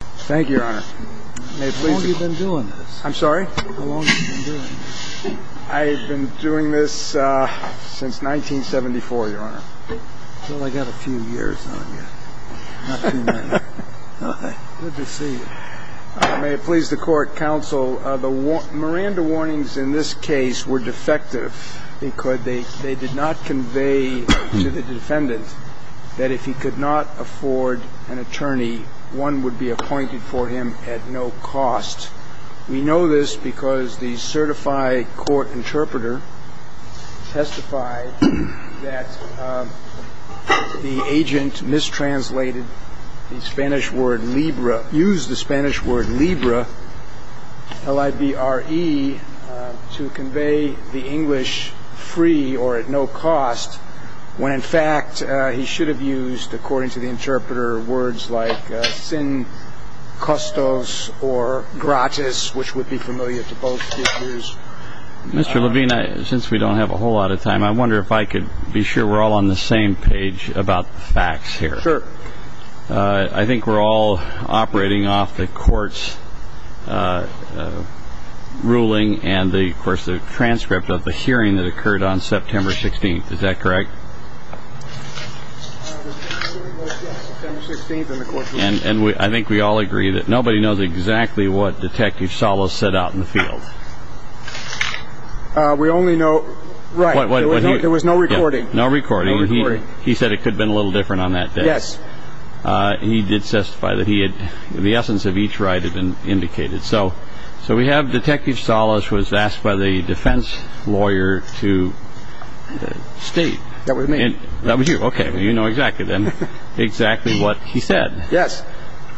Thank you, Your Honor. May it please the Court... How long have you been doing this? I'm sorry? How long have you been doing this? I've been doing this since 1974, Your Honor. Well, I got a few years on you. Not too many. Good to see you. May it please the Court, Counsel, Miranda warnings in this case were defective because they did not convey to the defendant that if he could not afford an attorney, one would be appointed for him at no cost. We know this because the certified court interpreter testified that the agent mistranslated the Spanish word libra, used the Spanish word libra, L-I-B-R-E, to convey the English free or at no cost, when in fact he should have used, according to the interpreter, words like sin costos or gratis, which would be familiar to both speakers. Mr. Levine, since we don't have a whole lot of time, I wonder if I could be sure we're all on the same page about the facts here. Sure. I think we're all operating off the Court's ruling and, of course, the transcript of the hearing that occurred on September 16th. Is that correct? And I think we all agree that nobody knows exactly what Detective Salas set out in the field. We only know, right, there was no recording. No recording. No recording. He said it could have been a little different on that day. Yes. He did testify that the essence of each right had been indicated. So we have Detective Salas was asked by the defense lawyer to state. That was me. That was you. Okay. Well, you know exactly then exactly what he said. Yes.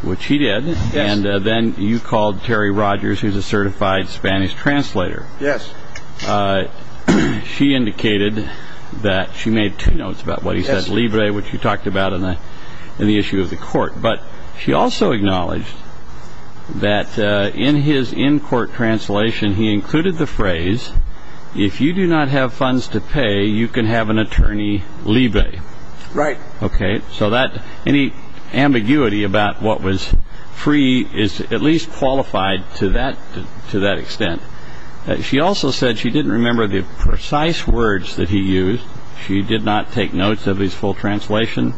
Which he did. Yes. And then you called Terry Rogers, who's a certified Spanish translator. Yes. She indicated that she made two notes about what he said, libre, which you talked about in the issue of the Court. But she also acknowledged that in his in-court translation he included the phrase, if you do not have funds to pay, you can have an attorney libre. Right. Okay. So any ambiguity about what was free is at least qualified to that extent. She also said she didn't remember the precise words that he used. She did not take notes of his full translation.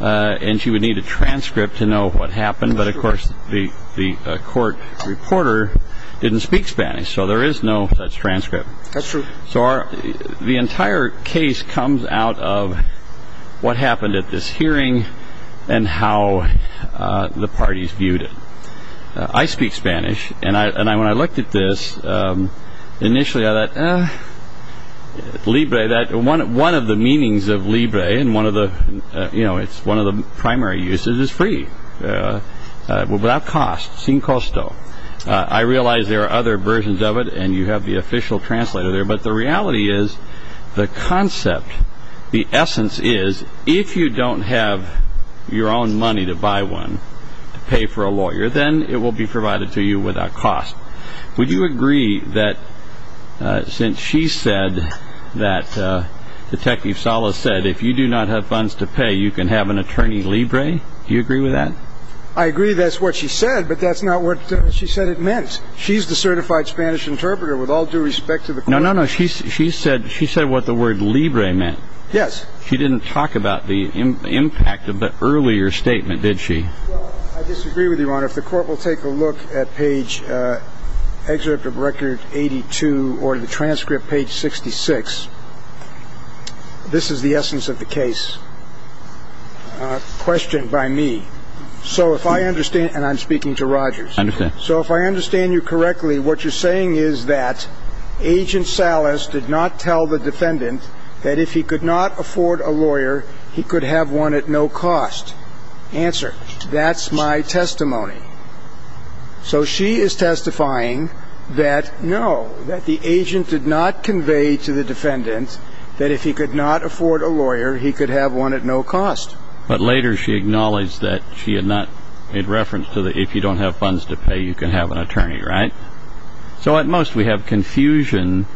And she would need a transcript to know what happened. But, of course, the court reporter didn't speak Spanish, so there is no such transcript. That's true. So the entire case comes out of what happened at this hearing and how the parties viewed it. I speak Spanish. And when I looked at this, initially I thought, eh, libre, one of the meanings of libre, and it's one of the primary uses, is free, without cost, sin costo. I realize there are other versions of it, and you have the official translator there. But the reality is the concept, the essence is if you don't have your own money to buy one, to pay for a lawyer, then it will be provided to you without cost. Would you agree that since she said that Detective Salas said, if you do not have funds to pay, you can have an attorney libre, do you agree with that? I agree that's what she said, but that's not what she said it meant. She's the certified Spanish interpreter with all due respect to the court. No, no, no. She said what the word libre meant. Yes. She didn't talk about the impact of the earlier statement, did she? I disagree with you, Your Honor. If the court will take a look at page, excerpt of Record 82 or the transcript, page 66, this is the essence of the case, questioned by me. So if I understand, and I'm speaking to Rogers. So if I understand you correctly, what you're saying is that Agent Salas did not tell the defendant that if he could not afford a lawyer, he could have one at no cost. Answer, that's my testimony. So she is testifying that, no, that the agent did not convey to the defendant that if he could not afford a lawyer, he could have one at no cost. But later she acknowledged that she had not made reference to the, if you don't have funds to pay, you can have an attorney, right? So at most we have confusion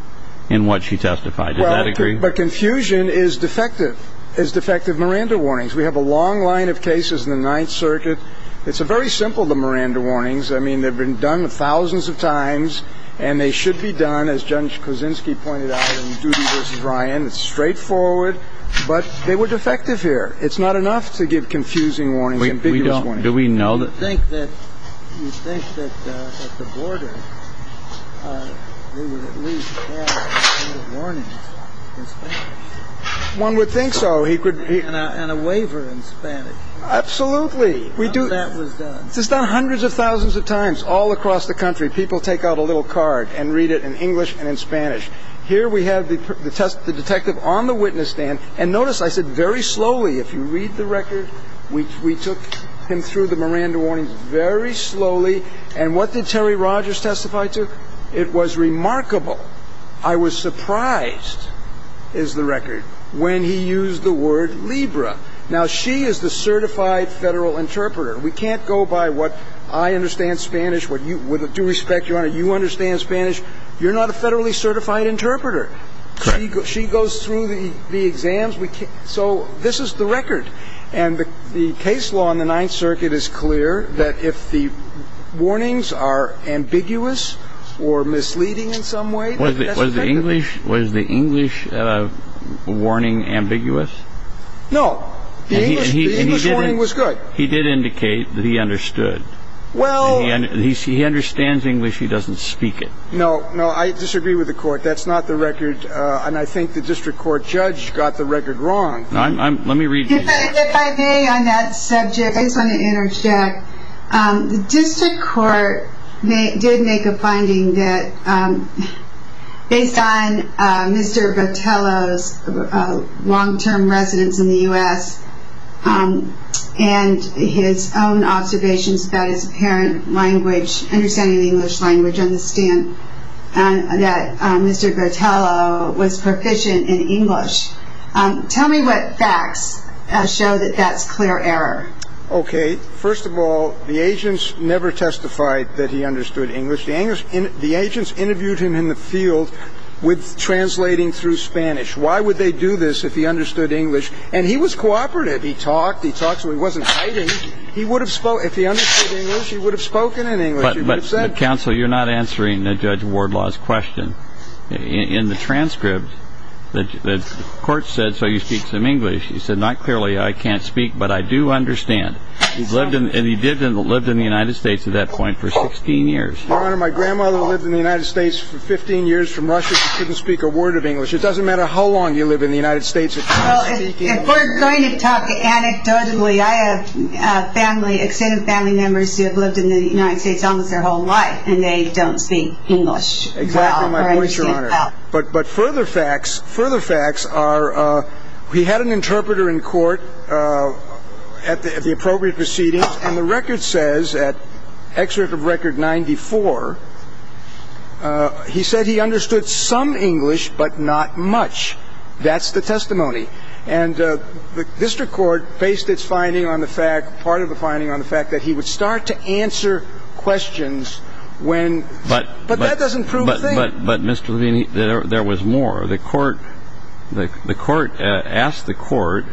in what she testified. Does that agree? But confusion is defective, is defective Miranda warnings. We have a long line of cases in the Ninth Circuit. It's very simple, the Miranda warnings. I mean, they've been done thousands of times, and they should be done, as Judge Kosinski pointed out in Judy v. Ryan. It's straightforward. But they were defective here. It's not enough to give confusing warnings, ambiguous warnings. Do we know that? Do you think that at the border they would at least have the warnings in Spanish? One would think so. And a waiver in Spanish. Absolutely. How that was done. This is done hundreds of thousands of times all across the country. People take out a little card and read it in English and in Spanish. Here we have the detective on the witness stand. And notice I said very slowly. If you read the record, we took him through the Miranda warnings very slowly. And what did Terry Rogers testify to? It was remarkable. I was surprised, is the record, when he used the word Libra. Now, she is the certified federal interpreter. We can't go by what I understand Spanish, with due respect, Your Honor, you understand Spanish. You're not a federally certified interpreter. Correct. She goes through the exams. So this is the record. And the case law in the Ninth Circuit is clear that if the warnings are ambiguous or misleading in some way. Was the English warning ambiguous? No. The English warning was good. He did indicate that he understood. Well. He understands English. He doesn't speak it. No, no. I disagree with the Court. That's not the record. And I think the District Court judge got the record wrong. Let me read. If I may on that subject, I just want to interject. The District Court did make a finding that based on Mr. Botelho's long-term residence in the U.S. and his own observations about his apparent language, understanding English language, understand that Mr. Botelho was proficient in English. Tell me what facts show that that's clear error. Okay. First of all, the agents never testified that he understood English. The agents interviewed him in the field with translating through Spanish. Why would they do this if he understood English? And he was cooperative. He talked. He talked so he wasn't hiding. If he understood English, he would have spoken in English. But, counsel, you're not answering Judge Wardlaw's question. In the transcript, the court said, so you speak some English. He said, not clearly I can't speak, but I do understand. And he lived in the United States at that point for 16 years. Your Honor, my grandmother lived in the United States for 15 years from Russia. She couldn't speak a word of English. It doesn't matter how long you live in the United States. Well, if we're going to talk anecdotally, I have family, extended family members who have lived in the United States almost their whole life, and they don't speak English. Exactly my point, Your Honor. But further facts are he had an interpreter in court at the appropriate proceedings, and the record says at excerpt of record 94, he said he understood some English but not much. That's the testimony. And the district court based its finding on the fact, part of the finding on the fact, that he would start to answer questions when, but that doesn't prove a thing. But, Mr. Levine, there was more. The court asked the court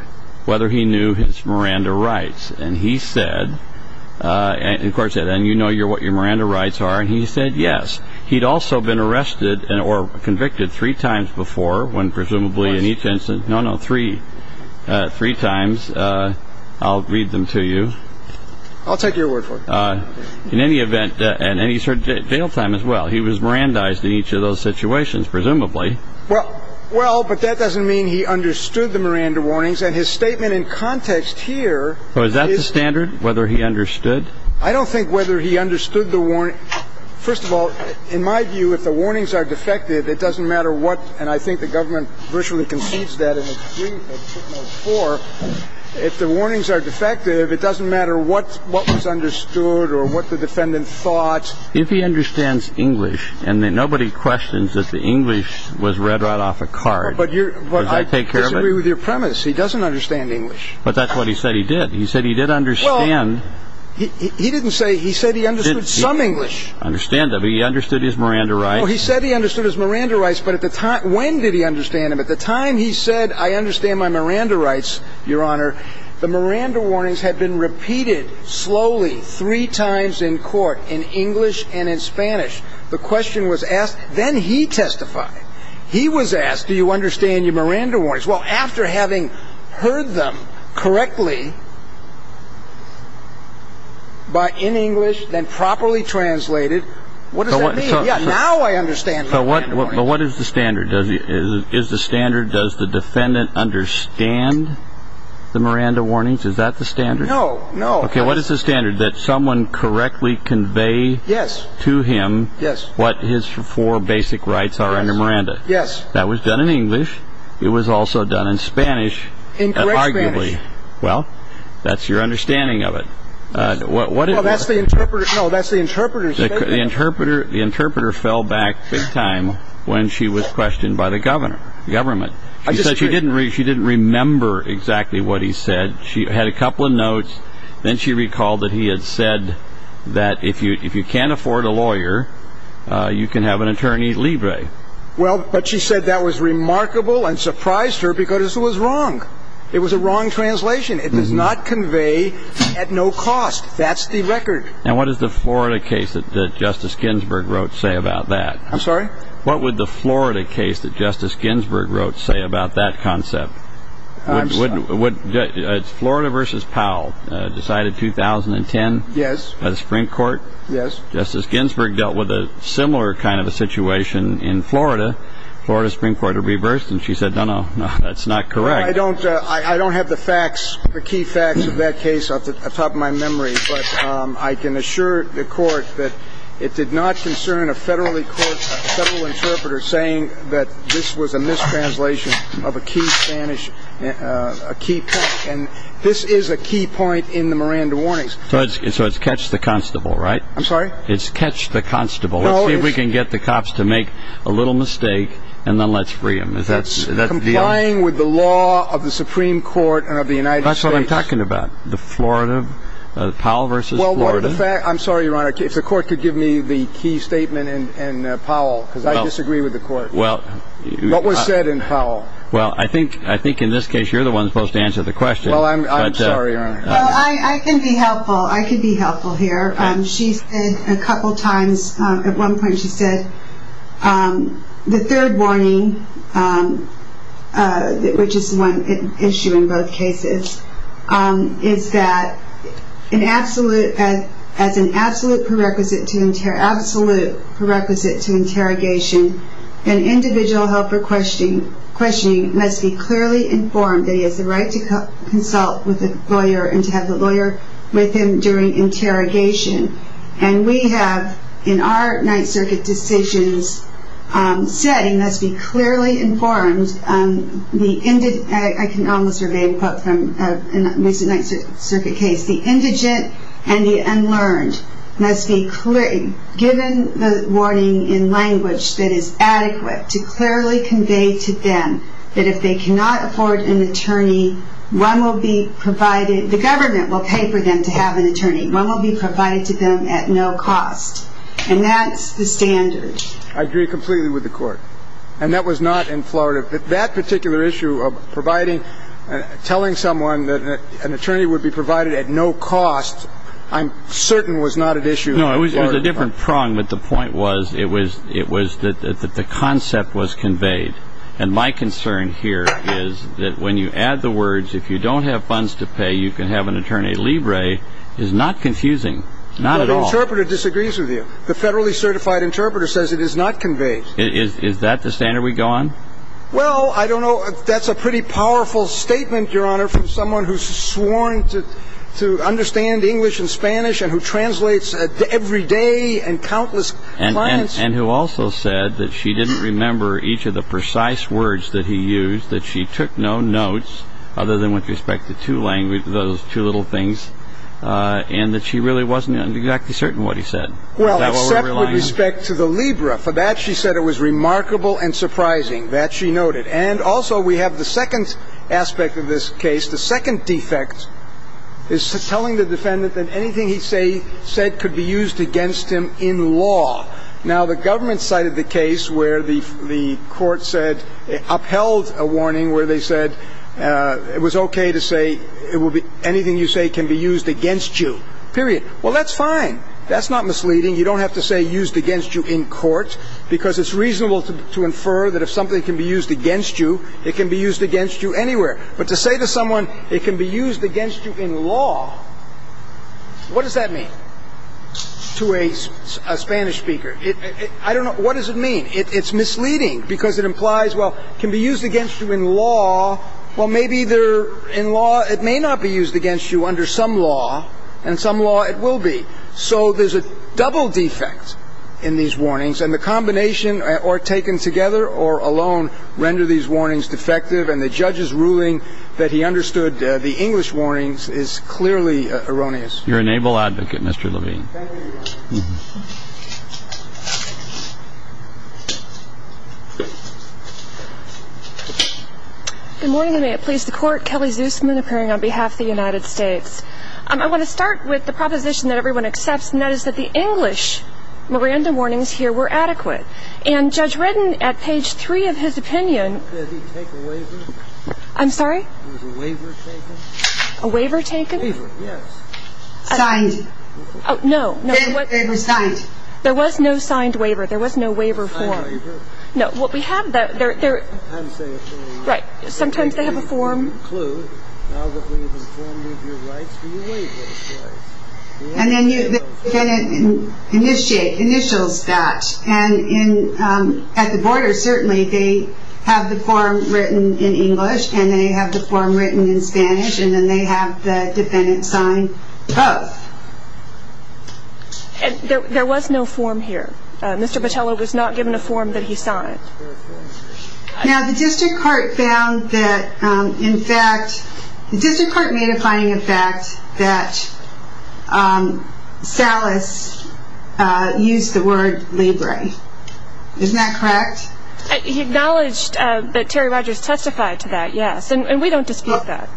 whether he knew his Miranda rights, and he said, and the court said, and you know what your Miranda rights are, and he said yes. He'd also been arrested or convicted three times before when presumably in each instance. Once. No, no, three times. I'll read them to you. I'll take your word for it. In any event, and he served jail time as well, he was Mirandized in each of those situations presumably. Well, but that doesn't mean he understood the Miranda warnings, and his statement in context here is. Well, is that the standard, whether he understood? I don't think whether he understood the warning. First of all, in my view, if the warnings are defective, it doesn't matter what, and I think the government virtually concedes that in its brief at note four. If the warnings are defective, it doesn't matter what was understood or what the defendant thought. If he understands English, and nobody questions that the English was read right off a card, does that take care of it? I don't agree with your premise. He doesn't understand English. But that's what he said he did. He said he did understand. He didn't say he said he understood some English. I understand that, but he understood his Miranda rights. Well, he said he understood his Miranda rights, but when did he understand them? At the time he said, I understand my Miranda rights, Your Honor, the Miranda warnings had been repeated slowly three times in court in English and in Spanish. The question was asked. Then he testified. He was asked, do you understand your Miranda warnings? Well, after having heard them correctly in English, then properly translated, what does that mean? Now I understand my Miranda warnings. But what is the standard? Is the standard does the defendant understand the Miranda warnings? Is that the standard? No, no. Okay, what is the standard? That someone correctly convey to him what his four basic rights are under Miranda. Yes. That was done in English. It was also done in Spanish. In correct Spanish. Arguably. Well, that's your understanding of it. Well, that's the interpreter. No, that's the interpreter. The interpreter fell back big time when she was questioned by the government. She said she didn't remember exactly what he said. She had a couple of notes. Then she recalled that he had said that if you can't afford a lawyer, you can have an attorney libre. Well, but she said that was remarkable and surprised her because it was wrong. It was a wrong translation. It does not convey at no cost. That's the record. And what is the Florida case that Justice Ginsburg wrote say about that? I'm sorry? What would the Florida case that Justice Ginsburg wrote say about that concept? I'm sorry? It's Florida versus Powell. Decided 2010. Yes. By the Supreme Court. Yes. Well, Justice Ginsburg dealt with a similar kind of a situation in Florida. Florida Supreme Court reversed. And she said, no, no, no, that's not correct. I don't have the facts, the key facts of that case at the top of my memory. But I can assure the court that it did not concern a federally court, a federal interpreter saying that this was a mistranslation of a key Spanish, a key point. And this is a key point in the Miranda warnings. So it's catch the constable, right? I'm sorry? It's catch the constable. Let's see if we can get the cops to make a little mistake and then let's free them. That's complying with the law of the Supreme Court and of the United States. That's what I'm talking about. The Florida, Powell versus Florida. I'm sorry, Your Honor, if the court could give me the key statement in Powell because I disagree with the court. What was said in Powell? Well, I think in this case you're the one supposed to answer the question. Well, I'm sorry, Your Honor. I can be helpful. I can be helpful here. She said a couple times, at one point she said the third warning, which is one issue in both cases, is that as an absolute prerequisite to interrogation, an individual held for questioning must be clearly informed that he has the right to consult with a lawyer and to have the lawyer with him during interrogation. And we have, in our Ninth Circuit decisions, said he must be clearly informed. I can almost reveal a quote from a recent Ninth Circuit case. The indigent and the unlearned must be given the warning in language that is adequate to clearly convey to them that if they cannot afford an attorney, one will be provided. The government will pay for them to have an attorney. One will be provided to them at no cost. And that's the standard. I agree completely with the court. And that was not in Florida. That particular issue of providing, telling someone that an attorney would be provided at no cost, I'm certain was not an issue in Florida. No, it was a different prong, but the point was it was that the concept was conveyed. And my concern here is that when you add the words, if you don't have funds to pay, you can have an attorney. Libre is not confusing, not at all. The interpreter disagrees with you. The federally certified interpreter says it is not conveyed. Is that the standard we go on? Well, I don't know. That's a pretty powerful statement, Your Honor, from someone who's sworn to understand English and Spanish and who translates every day and countless clients. And who also said that she didn't remember each of the precise words that he used, that she took no notes other than with respect to those two little things, and that she really wasn't exactly certain what he said. Well, except with respect to the Libre. For that she said it was remarkable and surprising. That she noted. And also we have the second aspect of this case. The second defect is telling the defendant that anything he said could be used against him in law. Now, the government cited the case where the court said, upheld a warning where they said it was okay to say anything you say can be used against you, period. Well, that's fine. That's not misleading. You don't have to say used against you in court because it's reasonable to infer that if something can be used against you, it can be used against you anywhere. But to say to someone it can be used against you in law, what does that mean? To a Spanish speaker. I don't know. What does it mean? It's misleading because it implies, well, it can be used against you in law. Well, maybe they're in law. It may not be used against you under some law, and some law it will be. So there's a double defect in these warnings. And the combination, or taken together or alone, render these warnings defective. And the judge's ruling that he understood the English warnings is clearly erroneous. You're an able advocate, Mr. Levine. Good morning, and may it please the Court. Kelly Zusman appearing on behalf of the United States. I want to start with the proposition that everyone accepts, and that is that the English Miranda warnings here were adequate. And Judge Redden, at page three of his opinion. Did he take a waiver? I'm sorry? Was a waiver taken? A waiver taken? A waiver, yes. Signed? Oh, no. It was signed. There was no signed waiver. There was no waiver form. Signed waiver. No. What we have there, there. I'm saying a form. Right. Sometimes they have a form. Now that we've informed you of your rights, we waive those rights. And then you initiate, initials that. And at the border, certainly they have the form written in English, and they have the form written in Spanish, and they have the defendant sign both. There was no form here. Mr. Botello was not given a form that he signed. Now the district court found that, in fact, the district court made a finding, in fact, that Salas used the word libre. Isn't that correct? He acknowledged that Terry Rogers testified to that, yes. And we don't dispute that.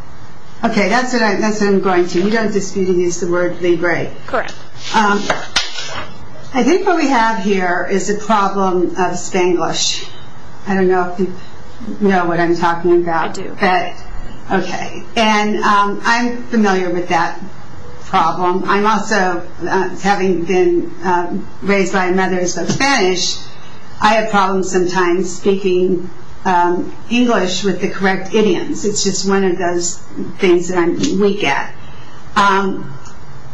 Okay. That's what I'm going to. We don't dispute he used the word libre. Correct. I think what we have here is a problem of Spanglish. I don't know if you know what I'm talking about. I do. Okay. And I'm familiar with that problem. I'm also, having been raised by mothers of Spanish, I have problems sometimes speaking English with the correct idioms. It's just one of those things that I'm weak at.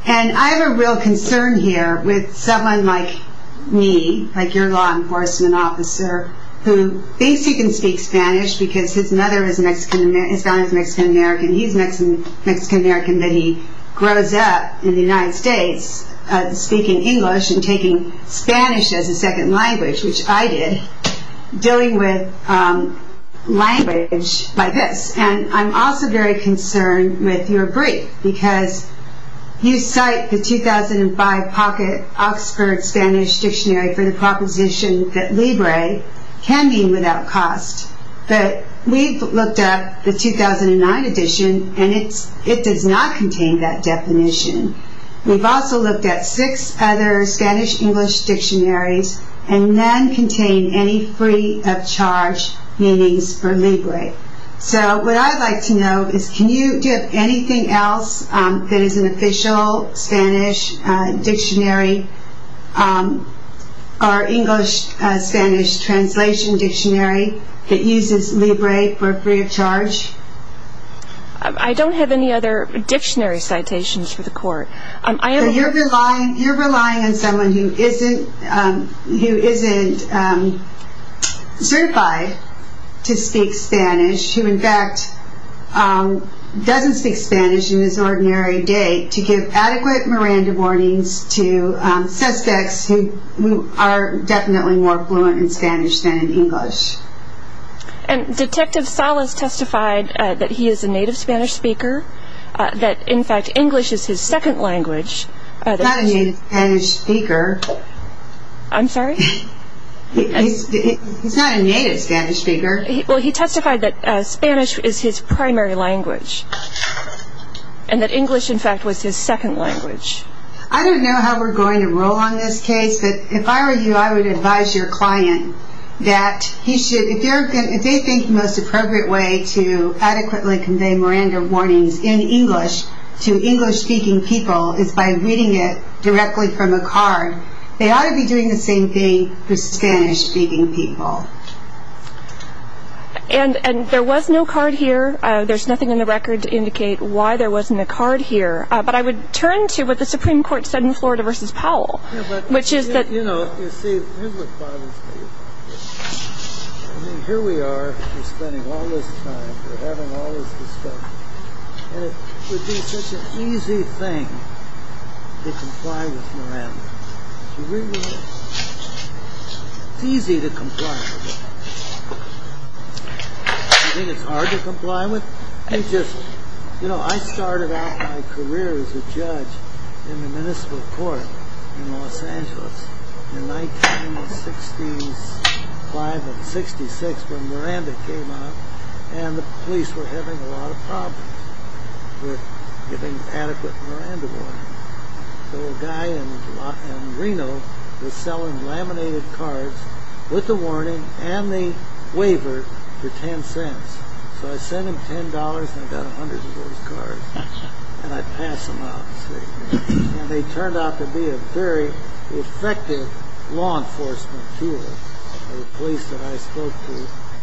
And I have a real concern here with someone like me, like your law enforcement officer, who thinks he can speak Spanish because his mother is Mexican American, his family is Mexican American, he's Mexican American, but he grows up in the United States speaking English and taking Spanish as a second language, which I did, dealing with language like this. And I'm also very concerned with your brief, because you cite the 2005 Pocket Oxford Spanish Dictionary for the proposition that libre can be without cost. But we've looked at the 2009 edition, and it does not contain that definition. We've also looked at six other Spanish-English dictionaries, and none contain any free of charge meanings for libre. So what I'd like to know is can you give anything else that is an official Spanish dictionary or English-Spanish translation dictionary that uses libre for free of charge? I don't have any other dictionary citations for the court. You're relying on someone who isn't certified to speak Spanish, who in fact doesn't speak Spanish in this ordinary day, to give adequate Miranda warnings to suspects who are definitely more fluent in Spanish than in English. And Detective Salas testified that he is a native Spanish speaker, that in fact English is his second language. He's not a native Spanish speaker. I'm sorry? He's not a native Spanish speaker. Well, he testified that Spanish is his primary language and that English, in fact, was his second language. I don't know how we're going to roll on this case, but if I were you, I would advise your client that he should, if they think the most appropriate way to adequately convey Miranda warnings in English to English-speaking people is by reading it directly from a card, they ought to be doing the same thing for Spanish-speaking people. And there was no card here. There's nothing in the record to indicate why there wasn't a card here. But I would turn to what the Supreme Court said in Florida v. Powell, which is that... You know, you see, here's what bothers me about this. I mean, here we are, we're spending all this time, we're having all this discussion, and it would be such an easy thing to comply with Miranda. Do you agree with me? It's easy to comply with her. You think it's hard to comply with? You know, I started out my career as a judge in the municipal court in Los Angeles in 1965 and 1966 when Miranda came out, and the police were having a lot of problems with giving adequate Miranda warnings. So a guy in Reno was selling laminated cards with the warning and the waiver for 10 cents. So I sent him $10, and I got hundreds of those cards, and I passed them out. And they turned out to be a very effective law enforcement tool. The police that I spoke to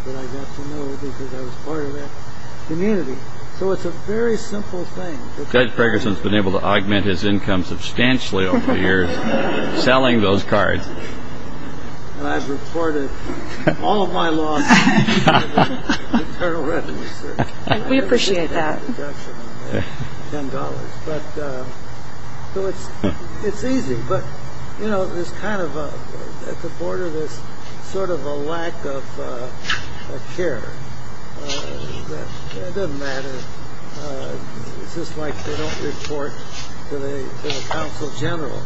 that I got to know because I was part of that community. So it's a very simple thing. Judge Pregerson has been able to augment his income substantially over the years selling those cards. And I've reported all of my losses to the Internal Revenue Service. We appreciate that. I've never seen a reduction of $10. So it's easy. But, you know, there's kind of at the border this sort of a lack of care. It doesn't matter. It's just like they don't report to the counsel general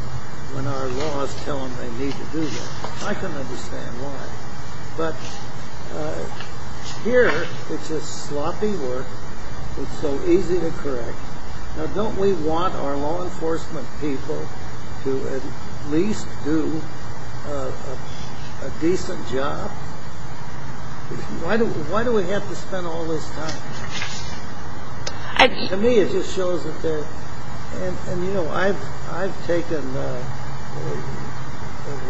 when our laws tell them they need to do that. I can understand why. But here it's just sloppy work. It's so easy to correct. Now, don't we want our law enforcement people to at least do a decent job? Why do we have to spend all this time? To me it just shows that they're... And, you know, I've taken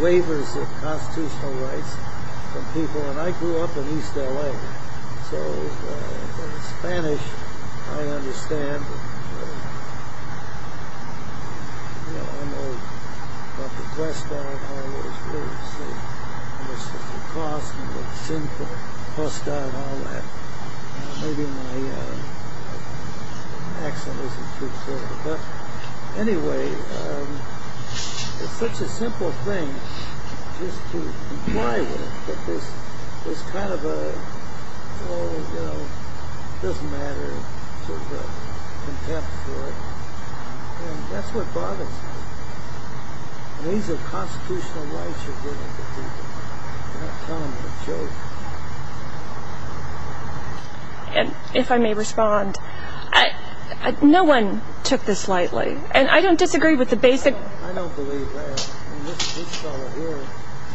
waivers of constitutional rights from people. And I grew up in East L.A. So in Spanish I understand. But, you know, I know about the cost and the cost of all that. Maybe my accent isn't too clear. But anyway, it's such a simple thing just to comply with. But this is kind of a, oh, you know, it doesn't matter. There's contempt for it. And that's what bothers me. These are constitutional rights you're giving to people. You're not telling them a joke. And if I may respond, no one took this lightly. And I don't disagree with the basic... I don't believe that. And this fellow here,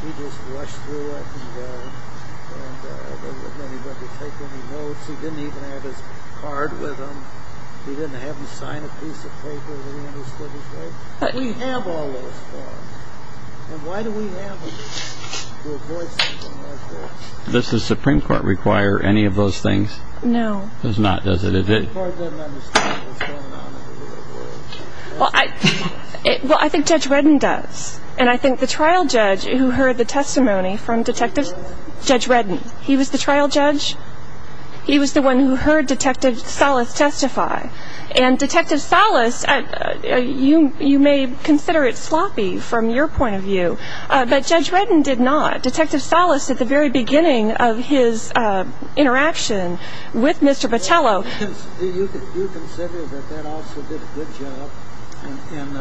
he just rushed through it. And then he went to take any notes. He didn't even have his card with him. He didn't have him sign a piece of paper that he understood his rights. We have all those forms. And why do we have them? To avoid something like this. Does the Supreme Court require any of those things? No. Does not, does it? The Supreme Court doesn't understand what's going on in the legal world. Well, I think Judge Redden does. And I think the trial judge who heard the testimony from Detective... Judge Redden. He was the trial judge? He was the one who heard Detective Salas testify. And Detective Salas, you may consider it sloppy from your point of view. But Judge Redden did not. Detective Salas, at the very beginning of his interaction with Mr. Patello... Do you consider that that officer did a good job in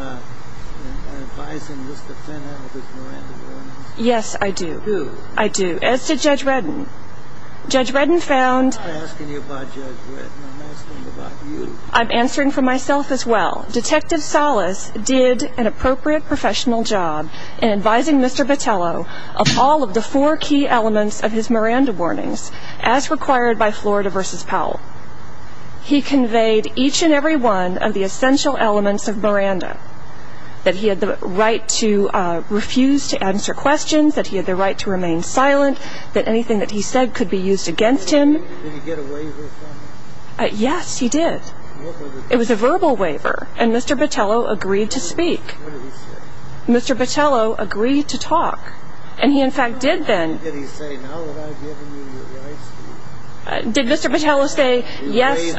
advising Mr. Fennell of his Miranda warnings? Yes, I do. Who? I do. As did Judge Redden. Judge Redden found... I'm not asking you about Judge Redden. I'm asking about you. I'm answering for myself as well. Detective Salas did an appropriate professional job in advising Mr. Patello of all of the four key elements of his Miranda warnings, as required by Florida v. Powell. He conveyed each and every one of the essential elements of Miranda. That he had the right to refuse to answer questions. That he had the right to remain silent. That anything that he said could be used against him. Did he get a waiver from him? Yes, he did. What was it? It was a verbal waiver. And Mr. Patello agreed to speak. What did he say? Mr. Patello agreed to talk. And he, in fact, did then. Did he say, now that I've given you your rights... Did Mr. Patello say, yes...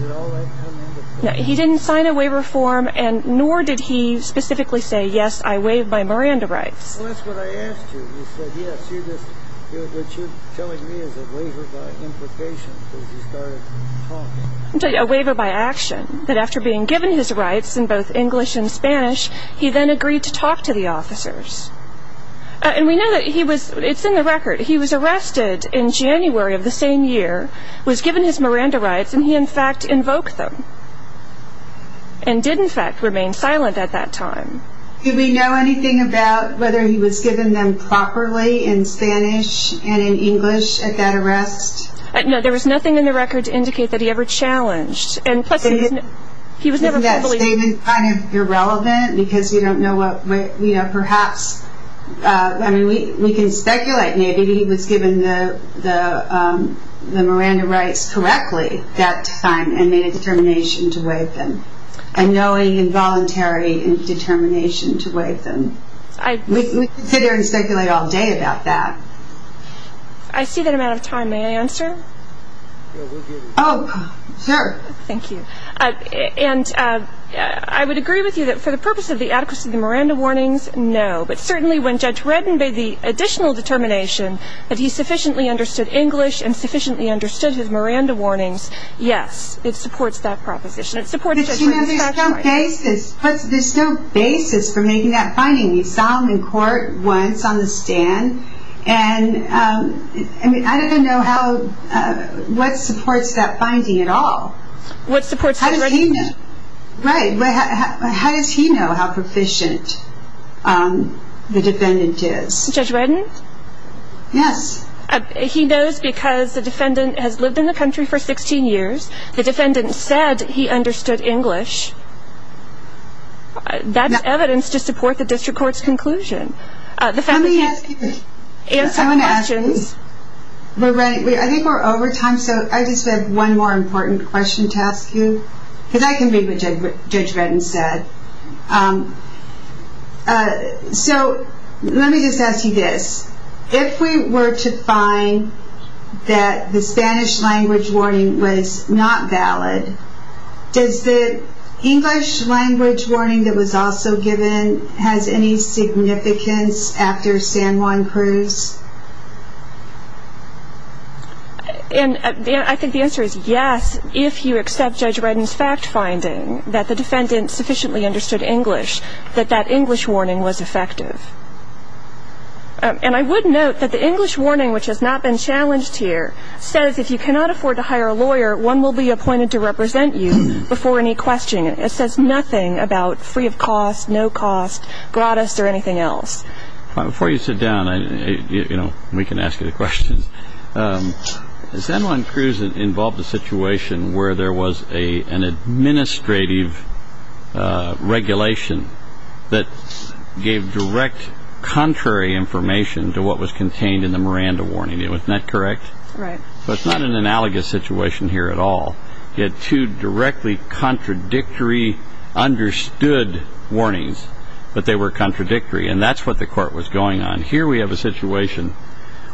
Did all that come into play? He didn't sign a waiver form, nor did he specifically say, yes, I waive my Miranda rights. Well, that's what I asked you. You said, yes. What you're telling me is a waiver by implication because he started talking. A waiver by action. That after being given his rights in both English and Spanish, he then agreed to talk to the officers. And we know that he was, it's in the record, he was arrested in January of the same year, was given his Miranda rights, and he, in fact, invoked them. And did, in fact, remain silent at that time. Did we know anything about whether he was given them properly in Spanish and in English at that arrest? No, there was nothing in the record to indicate that he ever challenged. And plus, he was never fully... Isn't that statement kind of irrelevant? Because we don't know what, you know, perhaps, I mean, we can speculate. Maybe he was given the Miranda rights correctly that time and made a determination to waive them. A knowing and voluntary determination to waive them. We could sit here and speculate all day about that. I see that I'm out of time. May I answer? Oh, sure. Thank you. And I would agree with you that for the purpose of the adequacy of the Miranda warnings, no. But certainly when Judge Redden made the additional determination that he sufficiently understood English and sufficiently understood his Miranda warnings, yes. It supports that proposition. It supports Judge Redden's factual argument. But, you know, there's no basis. There's no basis for making that finding. You saw him in court once on the stand. And, I mean, I don't know how, what supports that finding at all. What supports Judge Redden? How does he know? Right. How does he know how proficient the defendant is? Judge Redden? Yes. He knows because the defendant has lived in the country for 16 years. The defendant said he understood English. That's evidence to support the district court's conclusion. The defendant has some questions. I think we're over time, so I just have one more important question to ask you. Because I can read what Judge Redden said. So let me just ask you this. If we were to find that the Spanish language warning was not valid, does the English language warning that was also given have any significance after San Juan Cruz? And I think the answer is yes, if you accept Judge Redden's fact finding that the defendant sufficiently understood English, that that English warning was effective. And I would note that the English warning, which has not been challenged here, says if you cannot afford to hire a lawyer, one will be appointed to represent you before any questioning. It says nothing about free of cost, no cost, gratis, or anything else. Before you sit down, you know, we can ask you the questions. San Juan Cruz involved a situation where there was an administrative regulation that gave direct contrary information to what was contained in the Miranda warning. Isn't that correct? Right. So it's not an analogous situation here at all. You had two directly contradictory understood warnings, but they were contradictory. And that's what the court was going on. Here we have a situation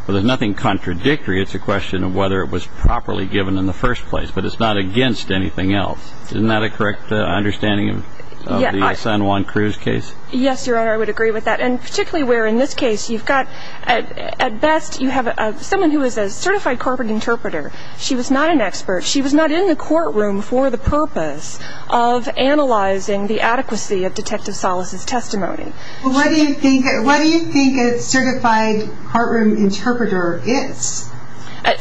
where there's nothing contradictory. It's a question of whether it was properly given in the first place. But it's not against anything else. Isn't that a correct understanding of the San Juan Cruz case? Yes, Your Honor, I would agree with that. And particularly where in this case you've got at best you have someone who is a certified corporate interpreter. She was not an expert. She was not in the courtroom for the purpose of analyzing the adequacy of Detective Salas' testimony. Well, what do you think a certified courtroom interpreter is?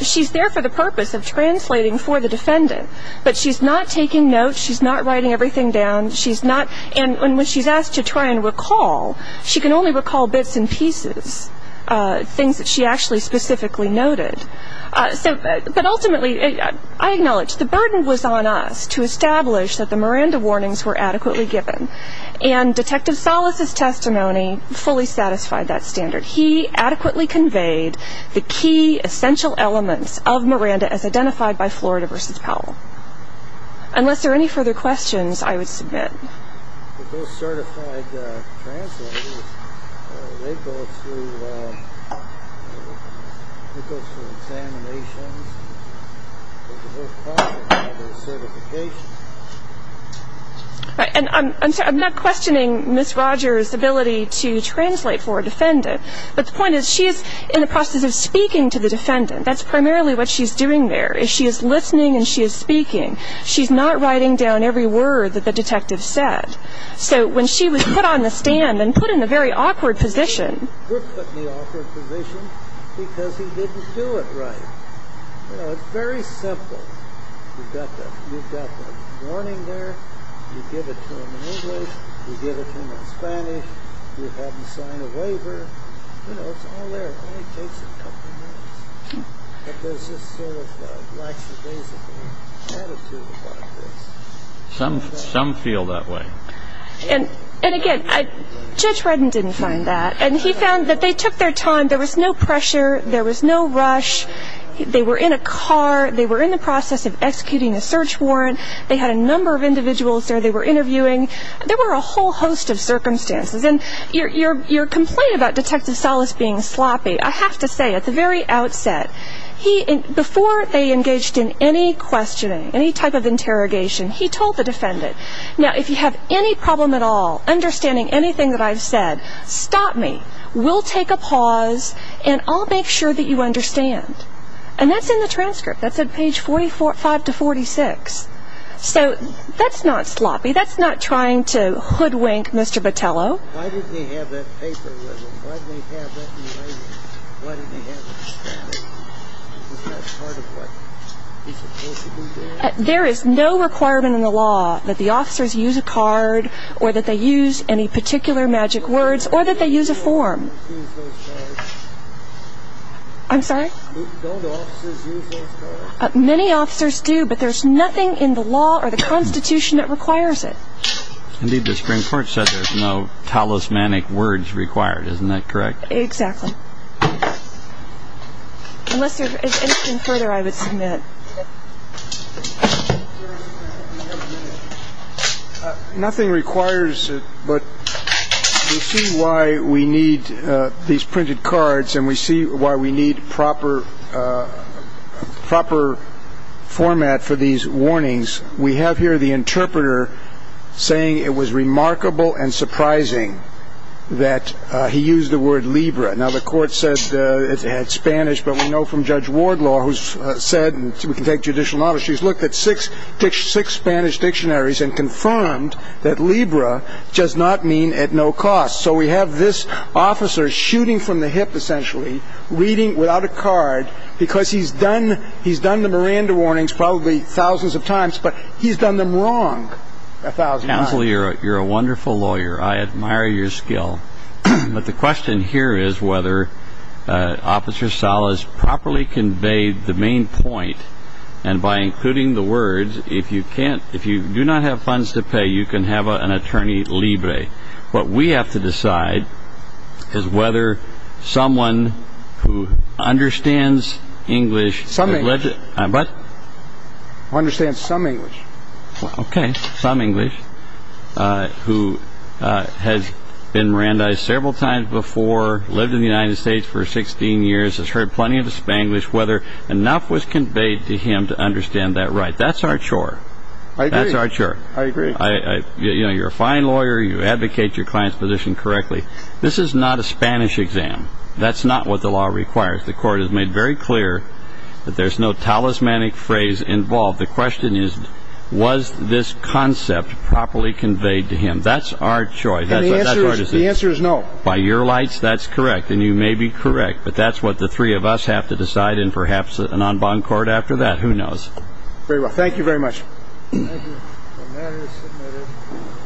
She's there for the purpose of translating for the defendant. But she's not taking notes. She's not writing everything down. And when she's asked to try and recall, she can only recall bits and pieces, things that she actually specifically noted. But ultimately, I acknowledge the burden was on us to establish that the Miranda warnings were adequately given. And Detective Salas' testimony fully satisfied that standard. He adequately conveyed the key essential elements of Miranda as identified by Florida v. Powell. Unless there are any further questions, I would submit. Those certified translators, they go through examinations. There's a whole process of certification. And I'm not questioning Ms. Rogers' ability to translate for a defendant. But the point is she is in the process of speaking to the defendant. That's primarily what she's doing there. She is listening and she is speaking. She's not writing down every word that the detective said. So when she was put on the stand and put in a very awkward position. He was put in the awkward position because he didn't do it right. You know, it's very simple. You've got the warning there. You give it to him in English. You give it to him in Spanish. You have him sign a waiver. You know, it's all there. It only takes a couple minutes. But there's this sort of lackadaisical attitude about this. Some feel that way. And again, Judge Redden didn't find that. And he found that they took their time. There was no pressure. There was no rush. They were in a car. They were in the process of executing a search warrant. They had a number of individuals there they were interviewing. There were a whole host of circumstances. And your complaint about Detective Salas being sloppy, I have to say at the very outset, before they engaged in any questioning, any type of interrogation, he told the defendant, Now, if you have any problem at all understanding anything that I've said, stop me. We'll take a pause, and I'll make sure that you understand. And that's in the transcript. That's at page 45 to 46. So that's not sloppy. That's not trying to hoodwink Mr. Botello. Why didn't he have that paper with him? Why didn't he have that evaluation? Why didn't he have the transcript? Isn't that part of what he's supposed to be doing? There is no requirement in the law that the officers use a card or that they use any particular magic words or that they use a form. Don't officers use those cards? I'm sorry? Don't officers use those cards? Many officers do, but there's nothing in the law or the Constitution that requires it. Indeed, the Supreme Court said there's no talismanic words required. Isn't that correct? Exactly. Unless there's anything further I would submit. Nothing requires it, but we see why we need these printed cards, and we see why we need proper format for these warnings. We have here the interpreter saying it was remarkable and surprising that he used the word Libra. Now, the court said it had Spanish, but we know from Judge Wardlaw who said, and we can take judicial notice, she's looked at six Spanish dictionaries and confirmed that Libra does not mean at no cost. So we have this officer shooting from the hip, essentially, reading without a card, because he's done the Miranda warnings probably thousands of times, but he's done them wrong a thousand times. Counselor, you're a wonderful lawyer. I admire your skill. But the question here is whether Officer Salas properly conveyed the main point, and by including the words, if you do not have funds to pay, you can have an attorney libre. What we have to decide is whether someone who understands English... Some English. What? Who understands some English. Okay, some English, who has been Mirandized several times before, lived in the United States for 16 years, has heard plenty of Spanglish, whether enough was conveyed to him to understand that right. That's our chore. I agree. That's our chore. I agree. You're a fine lawyer. You advocate your client's position correctly. This is not a Spanish exam. That's not what the law requires. The court has made very clear that there's no talismanic phrase involved. The question is, was this concept properly conveyed to him? That's our chore. The answer is no. By your lights, that's correct, and you may be correct, but that's what the three of us have to decide in perhaps an en banc court after that. Who knows? Very well. Thank you very much. Thank you. The matter is submitted.